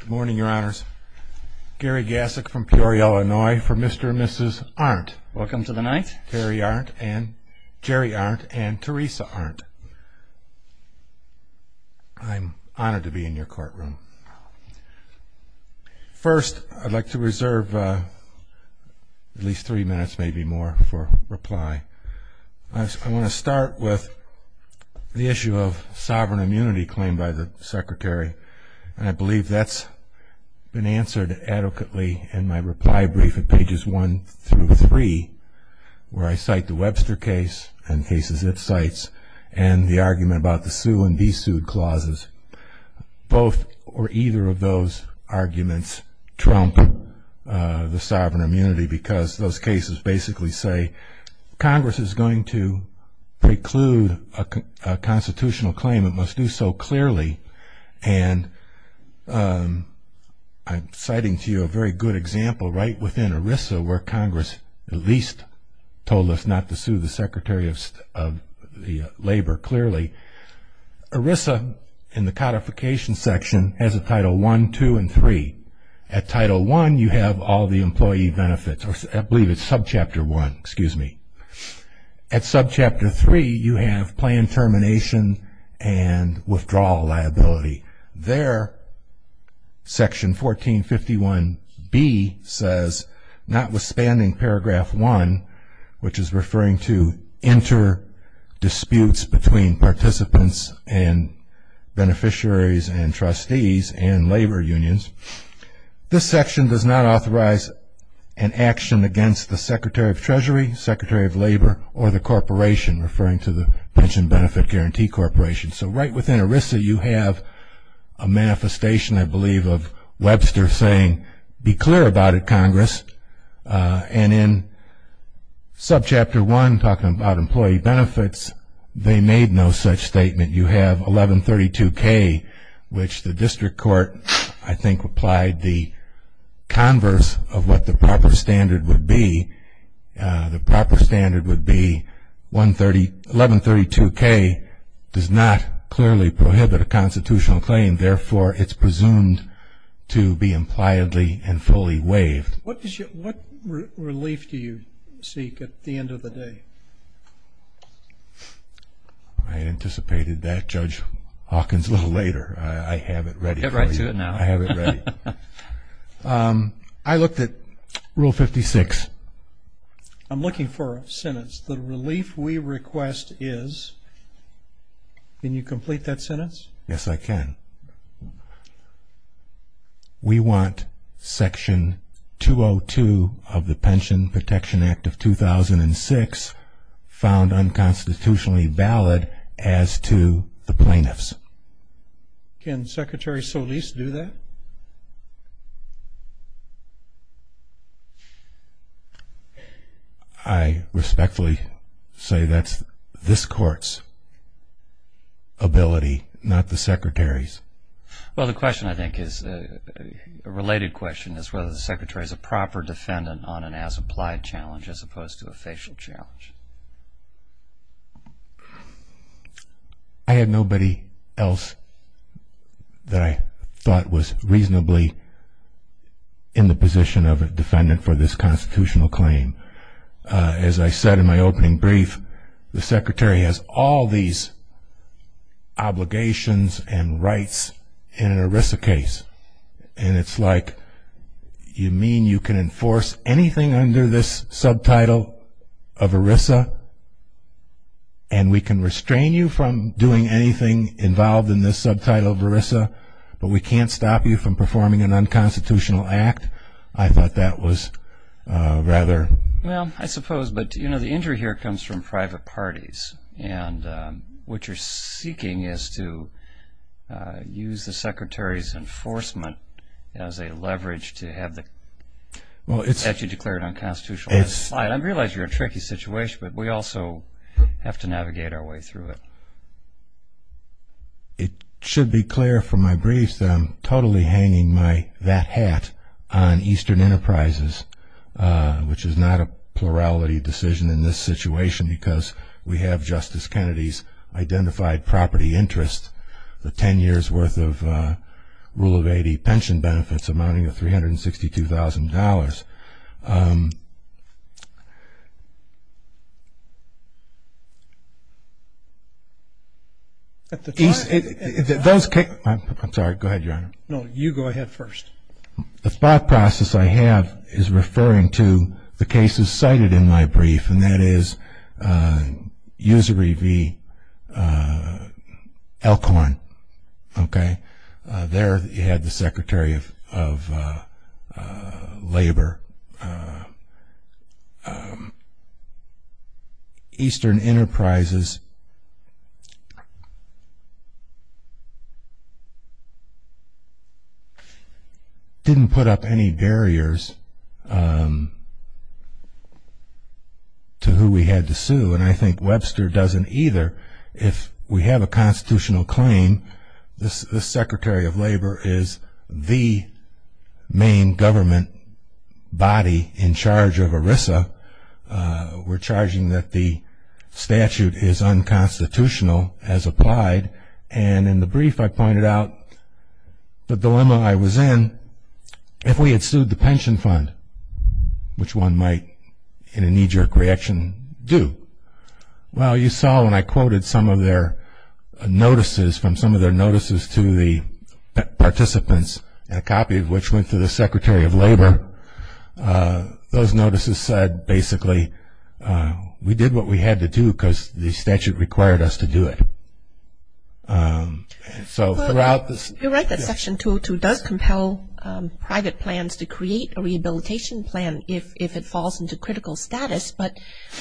Good morning, your honors. Gary Gassick from Peoria, Illinois, for Mr. and Mrs. Arendt. Welcome to the night. Jerry Arendt and Teresa Arendt. I'm honored to be in your courtroom. First, I'd like to reserve at least three minutes, maybe more, for reply. I want to start with the issue of sovereign immunity claimed by the secretary. I believe that's been answered adequately in my reply brief at pages 1 through 3, where I cite the Webster case and cases it cites and the argument about the sue and be sued clauses. Both or either of those arguments trump the sovereign immunity because those cases basically say Congress is going to preclude a constitutional claim. It must do so clearly. And I'm citing to you a very good example right within ERISA, where Congress at least told us not to sue the Secretary of Labor clearly. ERISA, in the codification section, has a Title I, II, and III. At Title I, you have all the employee benefits. I believe it's subchapter I. At subchapter III, you have planned termination and withdrawal liability. There, section 1451B says, notwithstanding paragraph I, which is referring to inter-disputes between participants and beneficiaries and trustees and labor unions, this section does not authorize an action against the Secretary of Treasury, Secretary of Labor, or the corporation, referring to the Pension Benefit Guarantee Corporation. So right within ERISA, you have a manifestation, I believe, of Webster saying, be clear about it, Congress. And in subchapter I, talking about employee benefits, they made no such statement. You have 1132K, which the district court, I think, applied the converse of what the proper standard would be. The proper standard would be 1132K does not clearly prohibit a constitutional claim. Therefore, it's presumed to be impliedly and fully waived. What relief do you seek at the end of the day? I anticipated that, Judge Hawkins, a little later. I have it ready for you. Get right to it now. I have it ready. I looked at Rule 56. I'm looking for a sentence. The relief we request is, can you complete that sentence? Yes, I can. We want Section 202 of the Pension Protection Act of 2006 found unconstitutionally valid as to the plaintiffs. Can Secretary Solis do that? I respectfully say that's this Court's ability, not the Secretary's. Well, the question, I think, is a related question, is whether the Secretary is a proper defendant on an as-applied challenge as opposed to a facial challenge. I had nobody else that I thought was reasonably in the position of a defendant for this constitutional claim. As I said in my opening brief, the Secretary has all these obligations and rights in an ERISA case, and it's like you mean you can enforce anything under this subtitle of ERISA, and we can restrain you from doing anything involved in this subtitle of ERISA, but we can't stop you from performing an unconstitutional act? I thought that was rather... Well, I suppose. But, you know, the injury here comes from private parties. What you're seeking is to use the Secretary's enforcement as a leverage to have the statute declared unconstitutional. I realize you're in a tricky situation, but we also have to navigate our way through it. It should be clear from my brief that I'm totally hanging that hat on Eastern Enterprises, which is not a plurality decision in this situation because we have Justice Kennedy's identified property interest, the 10 years' worth of Rule of 80 pension benefits amounting to $362,000. At the time... I'm sorry. Go ahead, Your Honor. No, you go ahead first. The thought process I have is referring to the cases cited in my brief, and that is usury v. Elkhorn, okay? There you had the Secretary of Labor. Eastern Enterprises didn't put up any barriers to who we had to sue, and I think Webster doesn't either. If we have a constitutional claim, this Secretary of Labor is the main government body in charge of ERISA. We're charging that the statute is unconstitutional as applied, and in the brief I pointed out the dilemma I was in. If we had sued the pension fund, which one might, in a knee-jerk reaction, do? Well, you saw when I quoted some of their notices, from some of their notices to the participants, a copy of which went to the Secretary of Labor, those notices said, basically, we did what we had to do because the statute required us to do it. You're right that Section 202 does compel private plans to create a rehabilitation plan if it falls into critical status, but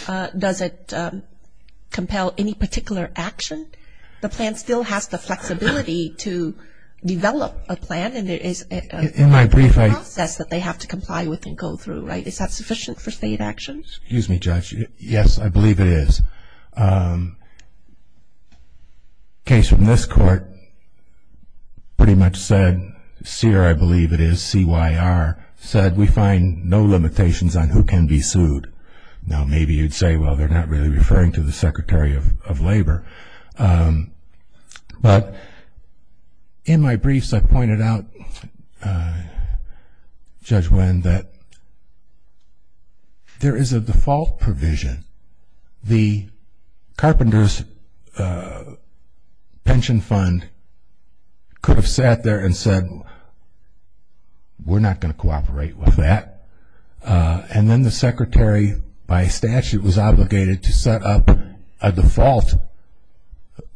does it compel any particular action? The plan still has the flexibility to develop a plan, and it is a process that they have to comply with and go through, right? Is that sufficient for state action? Excuse me, Judge. Yes, I believe it is. A case from this court pretty much said, CYR, I believe it is, C-Y-R, said we find no limitations on who can be sued. Now, maybe you'd say, well, they're not really referring to the Secretary of Labor, but in my briefs I pointed out, Judge Nguyen, that there is a default provision. The carpenters' pension fund could have sat there and said, we're not going to cooperate with that, and then the Secretary by statute was obligated to set up a default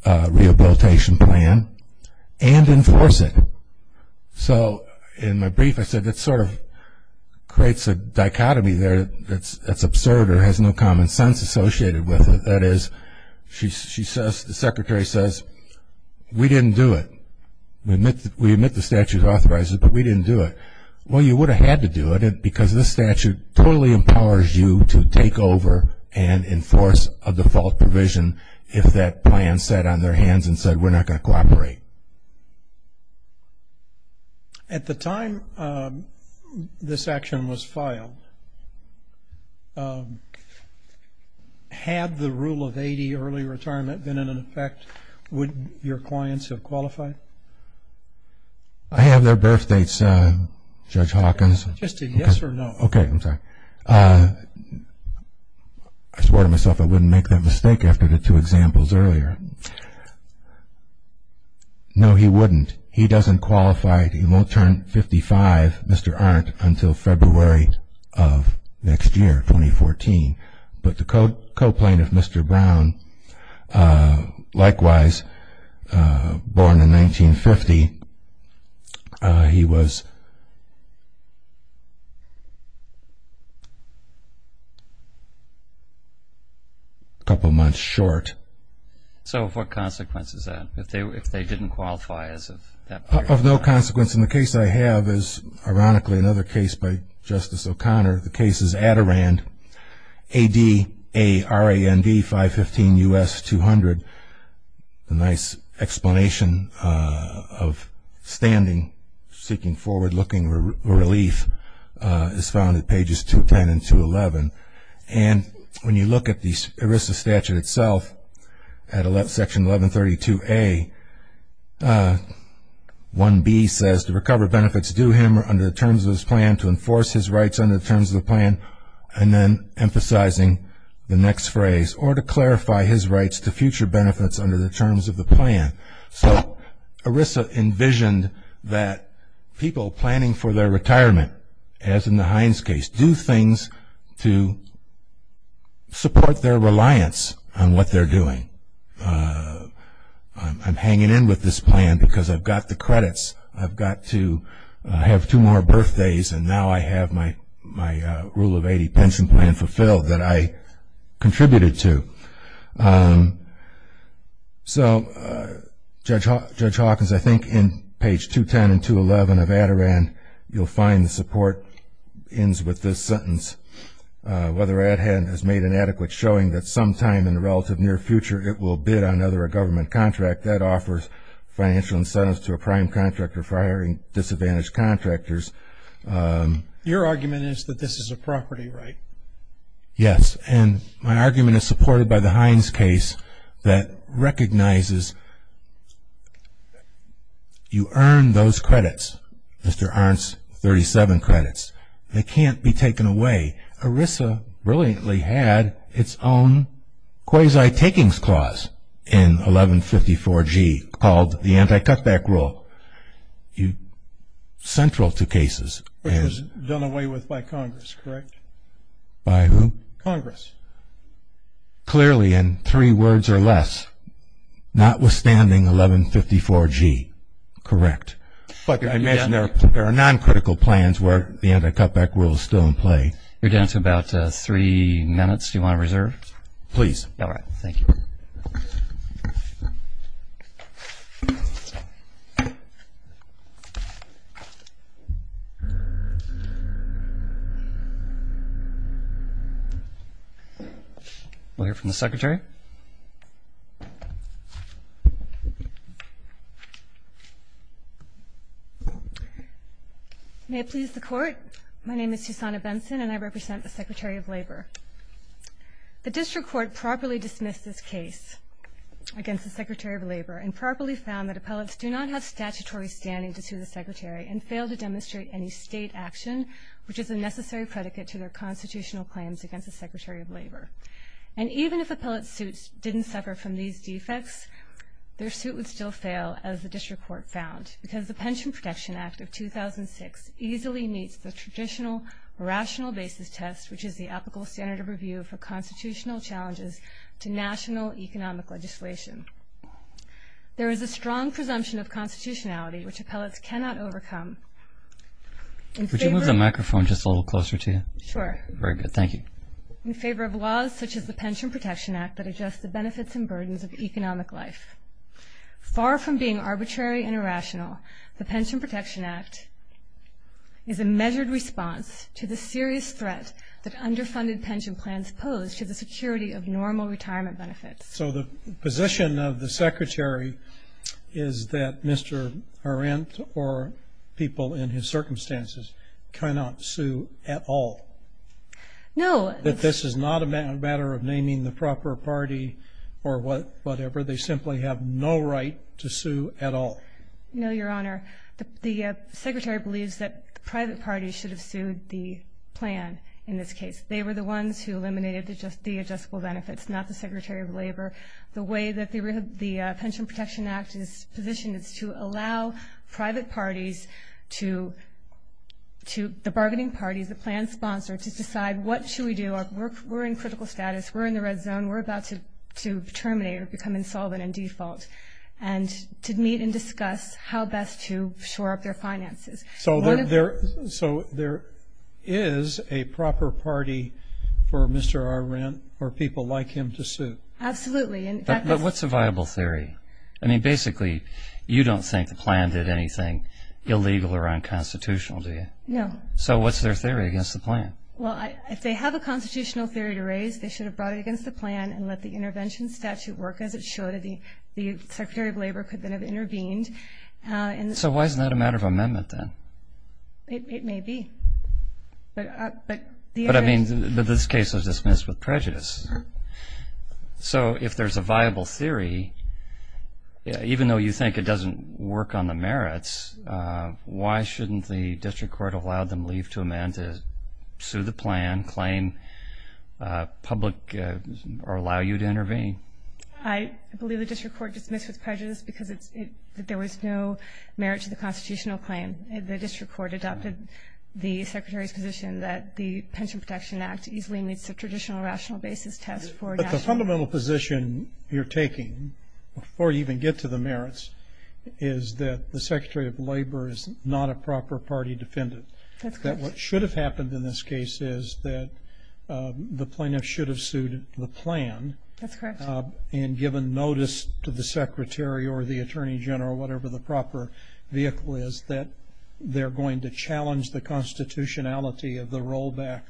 rehabilitation plan and enforce it. So in my brief I said that sort of creates a dichotomy there that's absurd or has no common sense associated with it. That is, the Secretary says, we didn't do it. We admit the statute authorizes it, but we didn't do it. Well, you would have had to do it because this statute totally empowers you to take over and enforce a default provision if that plan sat on their hands and said we're not going to cooperate. So at the time this action was filed, had the rule of 80 early retirement been in effect, would your clients have qualified? I have their birth dates, Judge Hawkins. Just a yes or no. Okay, I'm sorry. I swore to myself I wouldn't make that mistake after the two examples earlier. No, he wouldn't. He doesn't qualify. He won't turn 55, Mr. Arndt, until February of next year, 2014. But the co-plaintiff, Mr. Brown, likewise born in 1950, he was a couple months short. So what consequence is that if they didn't qualify as of that point? Of no consequence. And the case I have is, ironically, another case by Justice O'Connor. The case is Adirand, A-D-A-R-A-N-D, 515 U.S. 200. A nice explanation of standing, seeking forward-looking relief is found at pages 210 and 211. And when you look at the ERISA statute itself, at Section 1132A, 1B says, to recover benefits due him under the terms of his plan, to enforce his rights under the terms of the plan. And then emphasizing the next phrase, or to clarify his rights to future benefits under the terms of the plan. So ERISA envisioned that people planning for their retirement, as in the Hines case, do things to support their reliance on what they're doing. I'm hanging in with this plan because I've got the credits. I've got to have two more birthdays, and now I have my Rule of 80 pension plan fulfilled that I contributed to. So Judge Hawkins, I think in page 210 and 211 of Adirand, whether Adherent has made an adequate showing that sometime in the relative near future it will bid on another government contract, that offers financial incentives to a prime contractor for hiring disadvantaged contractors. Your argument is that this is a property right? Yes, and my argument is supported by the Hines case that recognizes you earn those credits, Mr. Arndt's 37 credits. They can't be taken away. ERISA brilliantly had its own quasi-takings clause in 1154G called the Anti-Cutback Rule, central to cases. Which was done away with by Congress, correct? By who? Congress. Clearly in three words or less, notwithstanding 1154G, correct. But I imagine there are non-critical plans where the Anti-Cutback Rule is still in play. You're down to about three minutes. Do you want to reserve? Please. All right. Thank you. We'll hear from the Secretary. May it please the Court. My name is Susanna Benson and I represent the Secretary of Labor. The District Court properly dismissed this case against the Secretary of Labor and properly found that appellates do not have statutory standing to sue the Secretary and fail to demonstrate any state action, which is a necessary predicate to their constitutional claims against the Secretary of Labor. And even if appellate suits didn't suffer from these defects, their suit would still fail, as the District Court found, because the Pension Protection Act of 2006 easily meets the traditional rational basis test, which is the applicable standard of review for constitutional challenges to national economic legislation. There is a strong presumption of constitutionality which appellates cannot overcome. Would you move the microphone just a little closer to you? Sure. Very good. Thank you. In favor of laws such as the Pension Protection Act that adjust the benefits and burdens of economic life. Far from being arbitrary and irrational, the Pension Protection Act is a measured response to the serious threat that underfunded pension plans pose to the security of normal retirement benefits. So the position of the Secretary is that Mr. Arendt or people in his circumstances cannot sue at all. No. That this is not a matter of naming the proper party or whatever. They simply have no right to sue at all. No, Your Honor. The Secretary believes that private parties should have sued the plan in this case. They were the ones who eliminated the adjustable benefits, not the Secretary of Labor. The way that the Pension Protection Act is positioned is to allow private parties to, the bargaining parties, the plan sponsor, to decide what should we do. We're in critical status. We're in the red zone. We're about to terminate or become insolvent and default. And to meet and discuss how best to shore up their finances. So there is a proper party for Mr. Arendt or people like him to sue. Absolutely. But what's a viable theory? I mean, basically, you don't think the plan did anything illegal or unconstitutional, do you? No. So what's their theory against the plan? Well, if they have a constitutional theory to raise, they should have brought it against the plan and let the intervention statute work as it should. The Secretary of Labor could then have intervened. So why isn't that a matter of amendment then? It may be. But this case was dismissed with prejudice. So if there's a viable theory, even though you think it doesn't work on the merits, why shouldn't the district court allow them to leave to amend it, sue the plan, claim public or allow you to intervene? I believe the district court dismissed it with prejudice because there was no merit to the constitutional claim. The district court adopted the Secretary's position that the Pension Protection Act easily meets the traditional rational basis test for national. The fundamental position you're taking, before you even get to the merits, is that the Secretary of Labor is not a proper party defendant. That's correct. That what should have happened in this case is that the plaintiff should have sued the plan. That's correct. And given notice to the Secretary or the Attorney General, whatever the proper vehicle is, that they're going to challenge the constitutionality of the rollback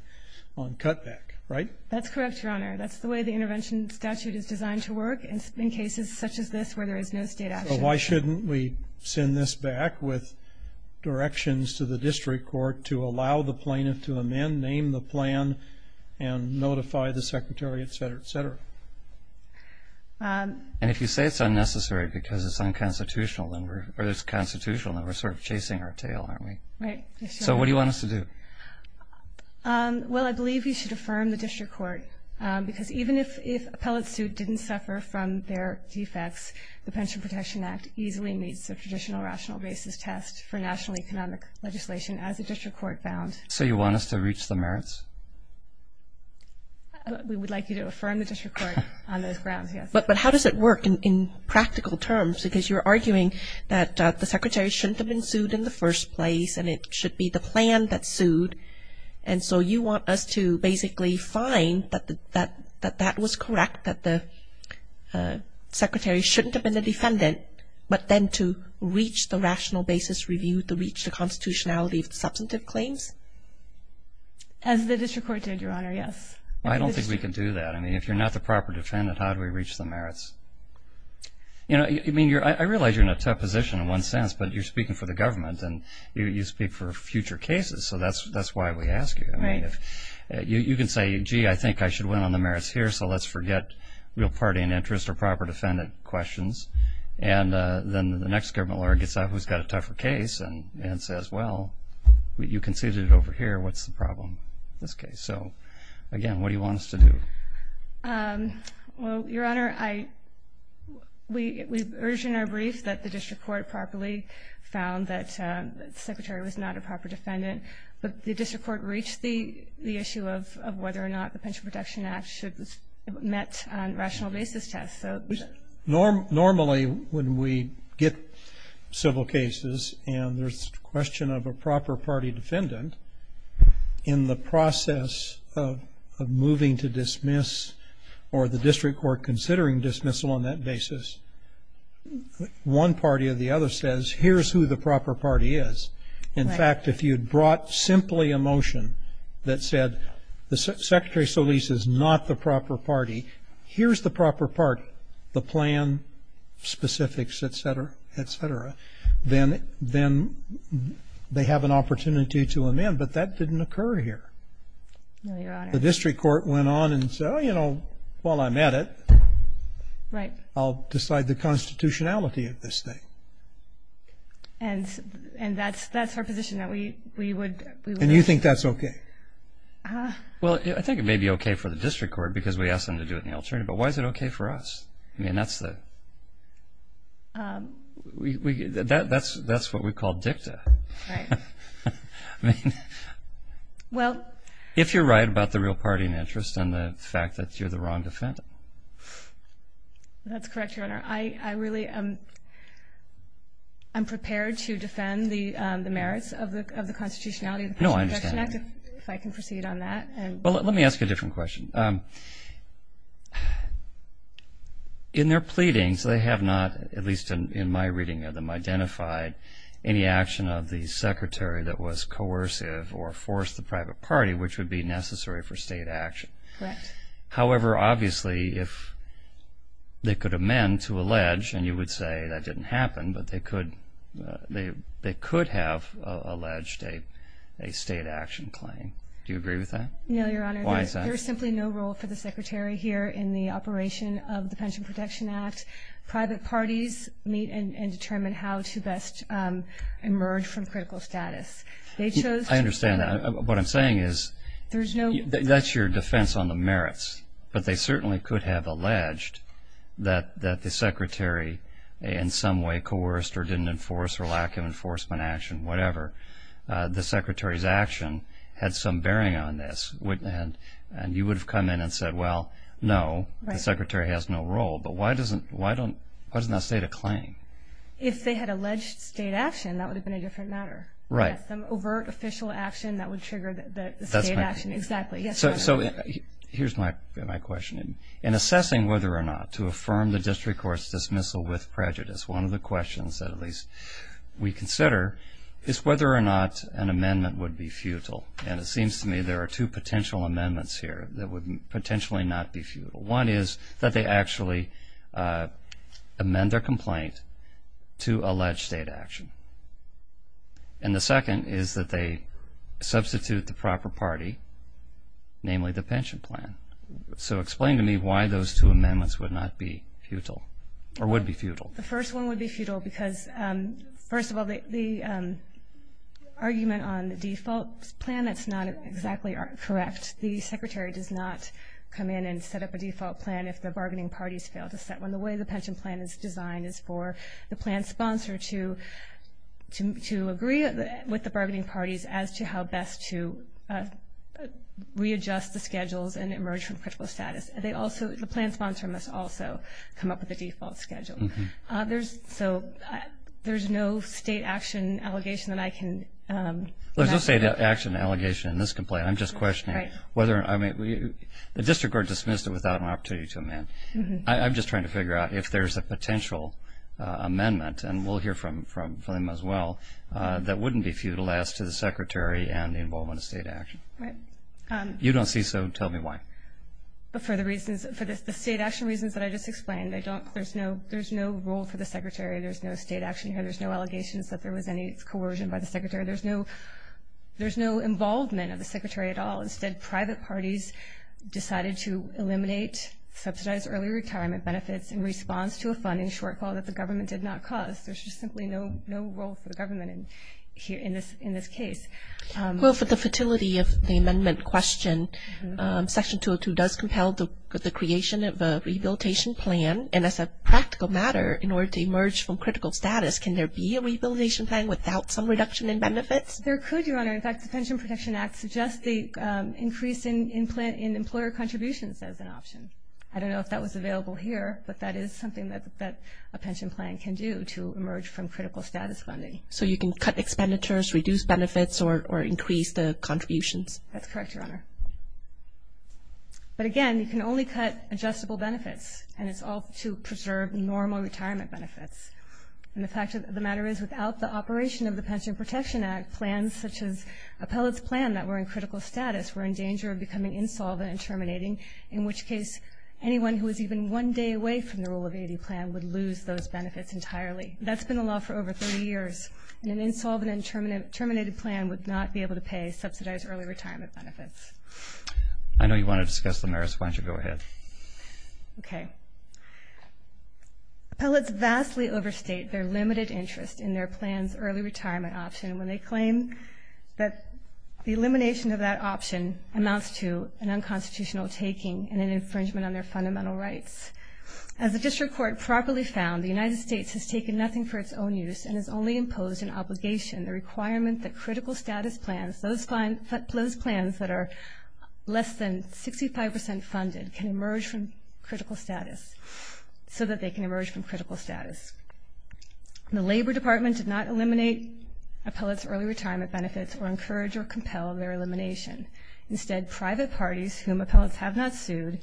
on cutback, right? That's correct, Your Honor. That's the way the intervention statute is designed to work in cases such as this where there is no state action. So why shouldn't we send this back with directions to the district court to allow the plaintiff to amend, name the plan, and notify the Secretary, et cetera, et cetera? And if you say it's unnecessary because it's unconstitutional, then we're sort of chasing our tail, aren't we? Right. So what do you want us to do? Well, I believe you should affirm the district court, because even if appellate suit didn't suffer from their defects, the Pension Protection Act easily meets the traditional rational basis test for national economic legislation, as the district court found. So you want us to reach the merits? We would like you to affirm the district court on those grounds, yes. But how does it work in practical terms? Because you're arguing that the Secretary shouldn't have been sued in the first place and it should be the plan that sued. And so you want us to basically find that that was correct, that the Secretary shouldn't have been the defendant, but then to reach the rational basis review to reach the constitutionality of the substantive claims? As the district court did, Your Honor, yes. I don't think we can do that. I mean, if you're not the proper defendant, how do we reach the merits? You know, I realize you're in a tough position in one sense, but you're speaking for the government and you speak for future cases, so that's why we ask you. You can say, gee, I think I should win on the merits here, so let's forget real party and interest or proper defendant questions. And then the next government lawyer gets out who's got a tougher case and says, well, you conceded it over here. What's the problem in this case? So, again, what do you want us to do? Well, Your Honor, we urge in our brief that the district court properly found that the Secretary was not a proper defendant, but the district court reached the issue of whether or not the Pension Protection Act should have met on a rational basis test. Normally when we get civil cases and there's a question of a proper party defendant, in the process of moving to dismiss or the district court considering dismissal on that basis, one party or the other says, here's who the proper party is. In fact, if you'd brought simply a motion that said the Secretary Solis is not the proper party, here's the proper party, the plan, specifics, et cetera, et cetera, then they have an opportunity to amend, but that didn't occur here. No, Your Honor. The district court went on and said, oh, you know, well, I met it. Right. I'll decide the constitutionality of this thing. And that's our position that we would. And you think that's okay? Well, I think it may be okay for the district court because we asked them to do it in the alternative, but why is it okay for us? I mean, that's what we call dicta. Right. I mean, if you're right about the real party and interest and the fact that you're the wrong defendant. That's correct, Your Honor. I really am prepared to defend the merits of the constitutionality of the Pension Protection Act. If I can proceed on that. Well, let me ask you a different question. In their pleadings, they have not, at least in my reading of them, identified any action of the Secretary that was coercive or forced the private party, which would be necessary for state action. Correct. However, obviously, if they could amend to allege, and you would say that didn't happen, but they could have alleged a state action claim. Do you agree with that? No, Your Honor. Why is that? There is simply no role for the Secretary here in the operation of the Pension Protection Act. Private parties meet and determine how to best emerge from critical status. I understand that. What I'm saying is that's your defense on the merits, but they certainly could have alleged that the Secretary in some way coerced or didn't enforce or lack of enforcement action, whatever. The Secretary's action had some bearing on this, and you would have come in and said, well, no, the Secretary has no role. But why doesn't that state a claim? If they had alleged state action, that would have been a different matter. Some overt official action that would trigger the state action. Exactly. So here's my question. In assessing whether or not to affirm the district court's dismissal with prejudice, one of the questions that at least we consider is whether or not an amendment would be futile. And it seems to me there are two potential amendments here that would potentially not be futile. One is that they actually amend their complaint to allege state action. And the second is that they substitute the proper party, namely the pension plan. So explain to me why those two amendments would not be futile or would be futile. The first one would be futile because, first of all, the argument on the default plan, that's not exactly correct. The Secretary does not come in and set up a default plan if the bargaining parties fail to set one. And the way the pension plan is designed is for the plan sponsor to agree with the bargaining parties as to how best to readjust the schedules and emerge from critical status. The plan sponsor must also come up with a default schedule. So there's no state action allegation that I can imagine. There's no state action allegation in this complaint. I'm just questioning whether the district court dismissed it without an opportunity to amend. I'm just trying to figure out if there's a potential amendment, and we'll hear from them as well, that wouldn't be futile as to the Secretary and the involvement of state action. If you don't see so, tell me why. For the state action reasons that I just explained, there's no role for the Secretary. There's no state action here. There's no allegations that there was any coercion by the Secretary. There's no involvement of the Secretary at all. Instead, private parties decided to eliminate subsidized early retirement benefits in response to a funding shortfall that the government did not cause. There's just simply no role for the government in this case. Well, for the futility of the amendment question, Section 202 does compel the creation of a rehabilitation plan. And as a practical matter, in order to emerge from critical status, can there be a rehabilitation plan without some reduction in benefits? There could, Your Honor. In fact, the Pension Protection Act suggests the increase in employer contributions as an option. I don't know if that was available here, but that is something that a pension plan can do to emerge from critical status funding. So you can cut expenditures, reduce benefits, or increase the contributions? That's correct, Your Honor. But again, you can only cut adjustable benefits, and it's all to preserve normal retirement benefits. And the fact of the matter is, without the operation of the Pension Protection Act, plans such as Appellate's plan that were in critical status were in danger of becoming insolvent and terminating, in which case anyone who was even one day away from the Rule of 80 plan would lose those benefits entirely. That's been the law for over 30 years. An insolvent and terminated plan would not be able to pay subsidized early retirement benefits. I know you want to discuss the merits. Why don't you go ahead? Okay. Appellates vastly overstate their limited interest in their plan's early retirement option when they claim that the elimination of that option amounts to an unconstitutional taking and an infringement on their fundamental rights. As the district court properly found, the United States has taken nothing for its own use and has only imposed an obligation, the requirement that critical status plans, those plans that are less than 65% funded, can emerge from critical status, so that they can emerge from critical status. The Labor Department did not eliminate Appellate's early retirement benefits or encourage or compel their elimination. Instead, private parties, whom Appellates have not sued,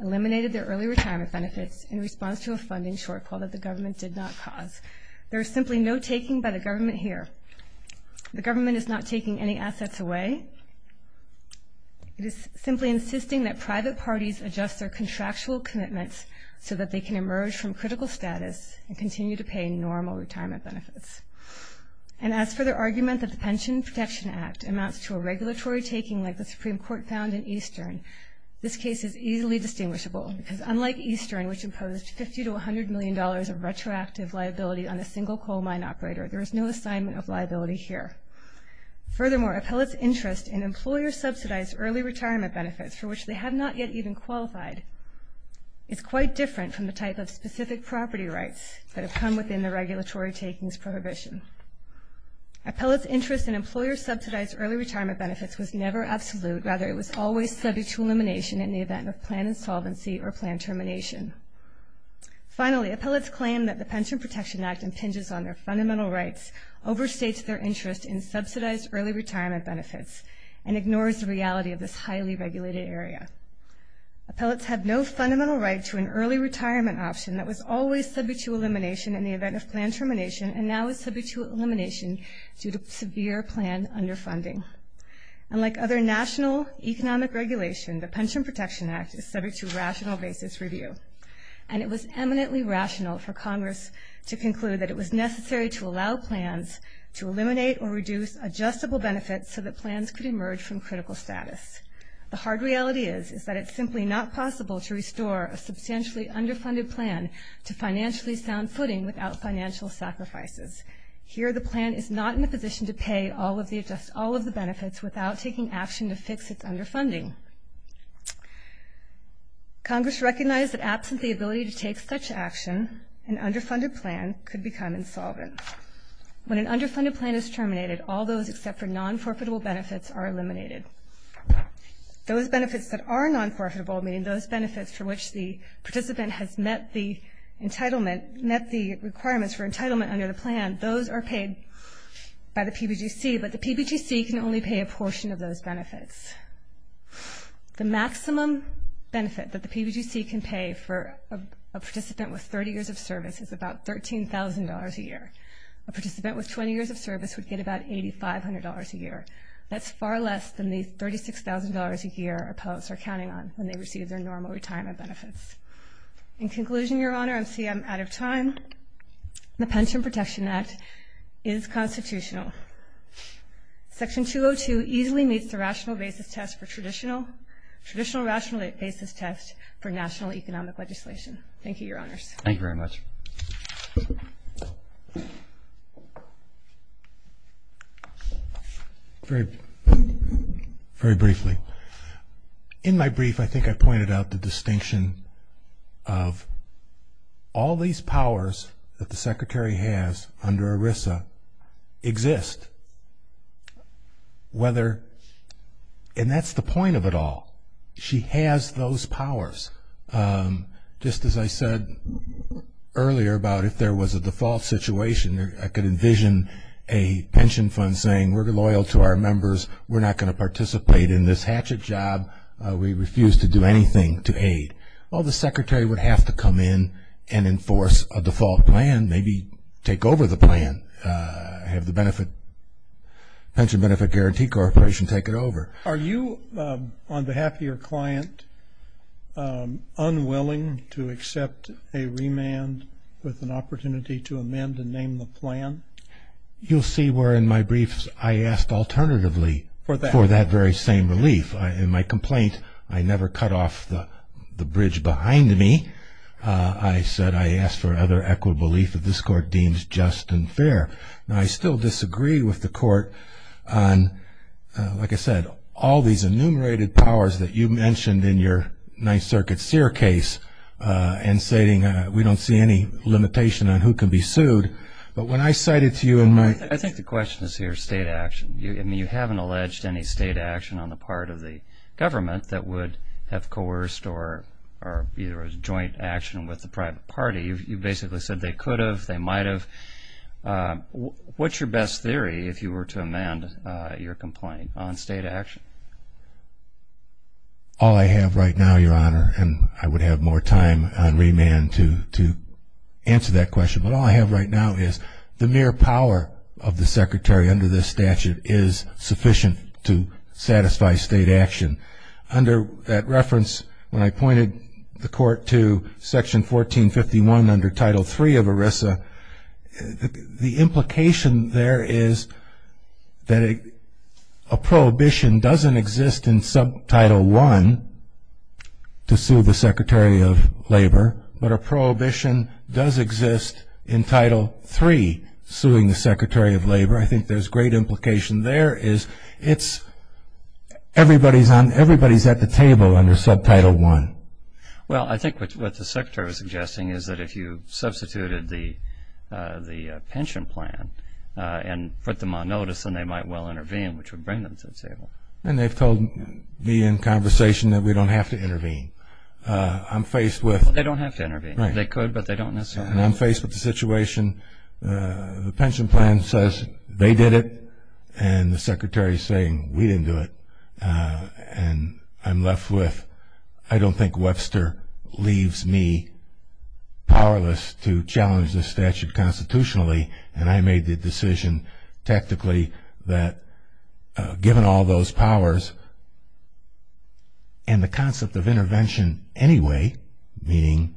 eliminated their early retirement benefits in response to a funding shortfall that the government did not cause. There is simply no taking by the government here. The government is not taking any assets away. It is simply insisting that private parties adjust their contractual commitments so that they can emerge from critical status and continue to pay normal retirement benefits. And as for the argument that the Pension Protection Act amounts to a regulatory taking like the Supreme Court found in Eastern, this case is easily distinguishable because unlike Eastern, which imposed $50 to $100 million of retroactive liability on a single coal mine operator, there is no assignment of liability here. Furthermore, Appellate's interest in employer-subsidized early retirement benefits, for which they have not yet even qualified, is quite different from the type of specific property rights that have come within the regulatory takings prohibition. Appellate's interest in employer-subsidized early retirement benefits was never absolute. Rather, it was always subject to elimination in the event of plan insolvency or plan termination. Finally, Appellate's claim that the Pension Protection Act impinges on their fundamental rights overstates their interest in subsidized early retirement benefits and ignores the reality of this highly regulated area. Appellate's have no fundamental right to an early retirement option that was always subject to elimination in the event of plan termination and now is subject to elimination due to severe plan underfunding. And like other national economic regulation, the Pension Protection Act is subject to rational basis review. And it was eminently rational for Congress to conclude that it was necessary to allow plans to eliminate or reduce adjustable benefits so that plans could emerge from critical status. The hard reality is that it's simply not possible to restore a substantially underfunded plan to financially sound footing without financial sacrifices. Here the plan is not in a position to pay all of the benefits without taking action to fix its underfunding. Congress recognized that absent the ability to take such action, an underfunded plan could become insolvent. When an underfunded plan is terminated, all those except for non-forfeitable benefits are eliminated. Those benefits that are non-forfeitable, meaning those benefits for which the participant has met the entitlement, met the requirements for entitlement under the plan, those are paid by the PBGC, but the PBGC can only pay a portion of those benefits. The maximum benefit that the PBGC can pay for a participant with 30 years of service is about $13,000 a year. A participant with 20 years of service would get about $8,500 a year. That's far less than the $36,000 a year appellants are counting on when they receive their normal retirement benefits. In conclusion, Your Honor, I see I'm out of time. The Pension Protection Act is constitutional. Section 202 easily meets the rational basis test for traditional, traditional rational basis test for national economic legislation. Thank you, Your Honors. Thank you very much. Very briefly, in my brief I think I pointed out the distinction of all these powers that the Secretary has under ERISA exist whether, and that's the point of it all, she has those powers. Just as I said earlier about if there was a default situation, I could envision a pension fund saying we're loyal to our members, we're not going to participate in this hatchet job, we refuse to do anything to aid. Well, the Secretary would have to come in and enforce a default plan, maybe take over the plan, have the Pension Benefit Guarantee Corporation take it over. Are you, on behalf of your client, unwilling to accept a remand with an opportunity to amend and name the plan? You'll see where in my briefs I asked alternatively for that very same relief. In my complaint, I never cut off the bridge behind me. I said I asked for other equitable relief that this Court deems just and fair. Now, I still disagree with the Court on, like I said, all these enumerated powers that you mentioned in your Ninth Circuit Sear case and stating we don't see any limitation on who can be sued. But when I cited to you in my – I think the question is here state action. I mean, you haven't alleged any state action on the part of the government that would have coerced or either a joint action with the private party. You basically said they could have, they might have. What's your best theory if you were to amend your complaint on state action? All I have right now, Your Honor, and I would have more time on remand to answer that question, but all I have right now is the mere power of the Secretary under this statute is sufficient to satisfy state action. And under that reference, when I pointed the Court to Section 1451 under Title III of ERISA, the implication there is that a prohibition doesn't exist in Subtitle I to sue the Secretary of Labor, but a prohibition does exist in Title III suing the Secretary of Labor. I think there's great implication there is it's everybody's at the table under Subtitle I. Well, I think what the Secretary is suggesting is that if you substituted the pension plan and put them on notice, then they might well intervene, which would bring them to the table. And they've told me in conversation that we don't have to intervene. I'm faced with – They don't have to intervene. They could, but they don't necessarily. And I'm faced with the situation, the pension plan says they did it, and the Secretary is saying we didn't do it. And I'm left with I don't think Webster leaves me powerless to challenge this statute constitutionally, and I made the decision tactically that given all those powers and the concept of intervention anyway, meaning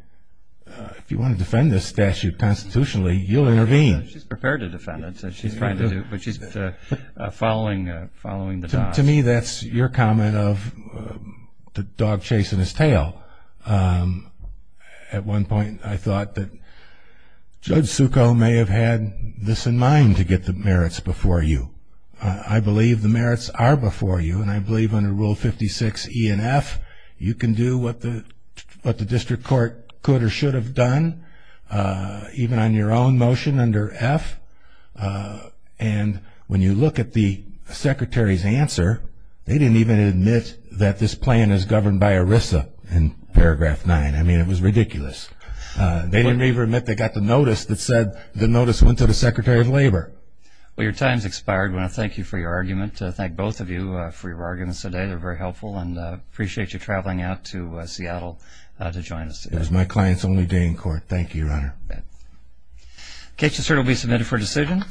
if you want to defend this statute constitutionally, you'll intervene. She's prepared to defend it. She's trying to do it, but she's following the dog. To me, that's your comment of the dog chasing his tail. At one point I thought that Judge Succo may have had this in mind to get the merits before you. I believe the merits are before you, and I believe under Rule 56 E and F, you can do what the district court could or should have done, even on your own motion under F. And when you look at the Secretary's answer, they didn't even admit that this plan is governed by ERISA in Paragraph 9. I mean, it was ridiculous. They didn't even admit they got the notice that said the notice went to the Secretary of Labor. Well, your time has expired. I want to thank you for your argument. Thank both of you for your arguments today. They're very helpful, and I appreciate you traveling out to Seattle to join us today. It was my client's only day in court. Thank you, Your Honor. Okay. The case has certainly been submitted for decision.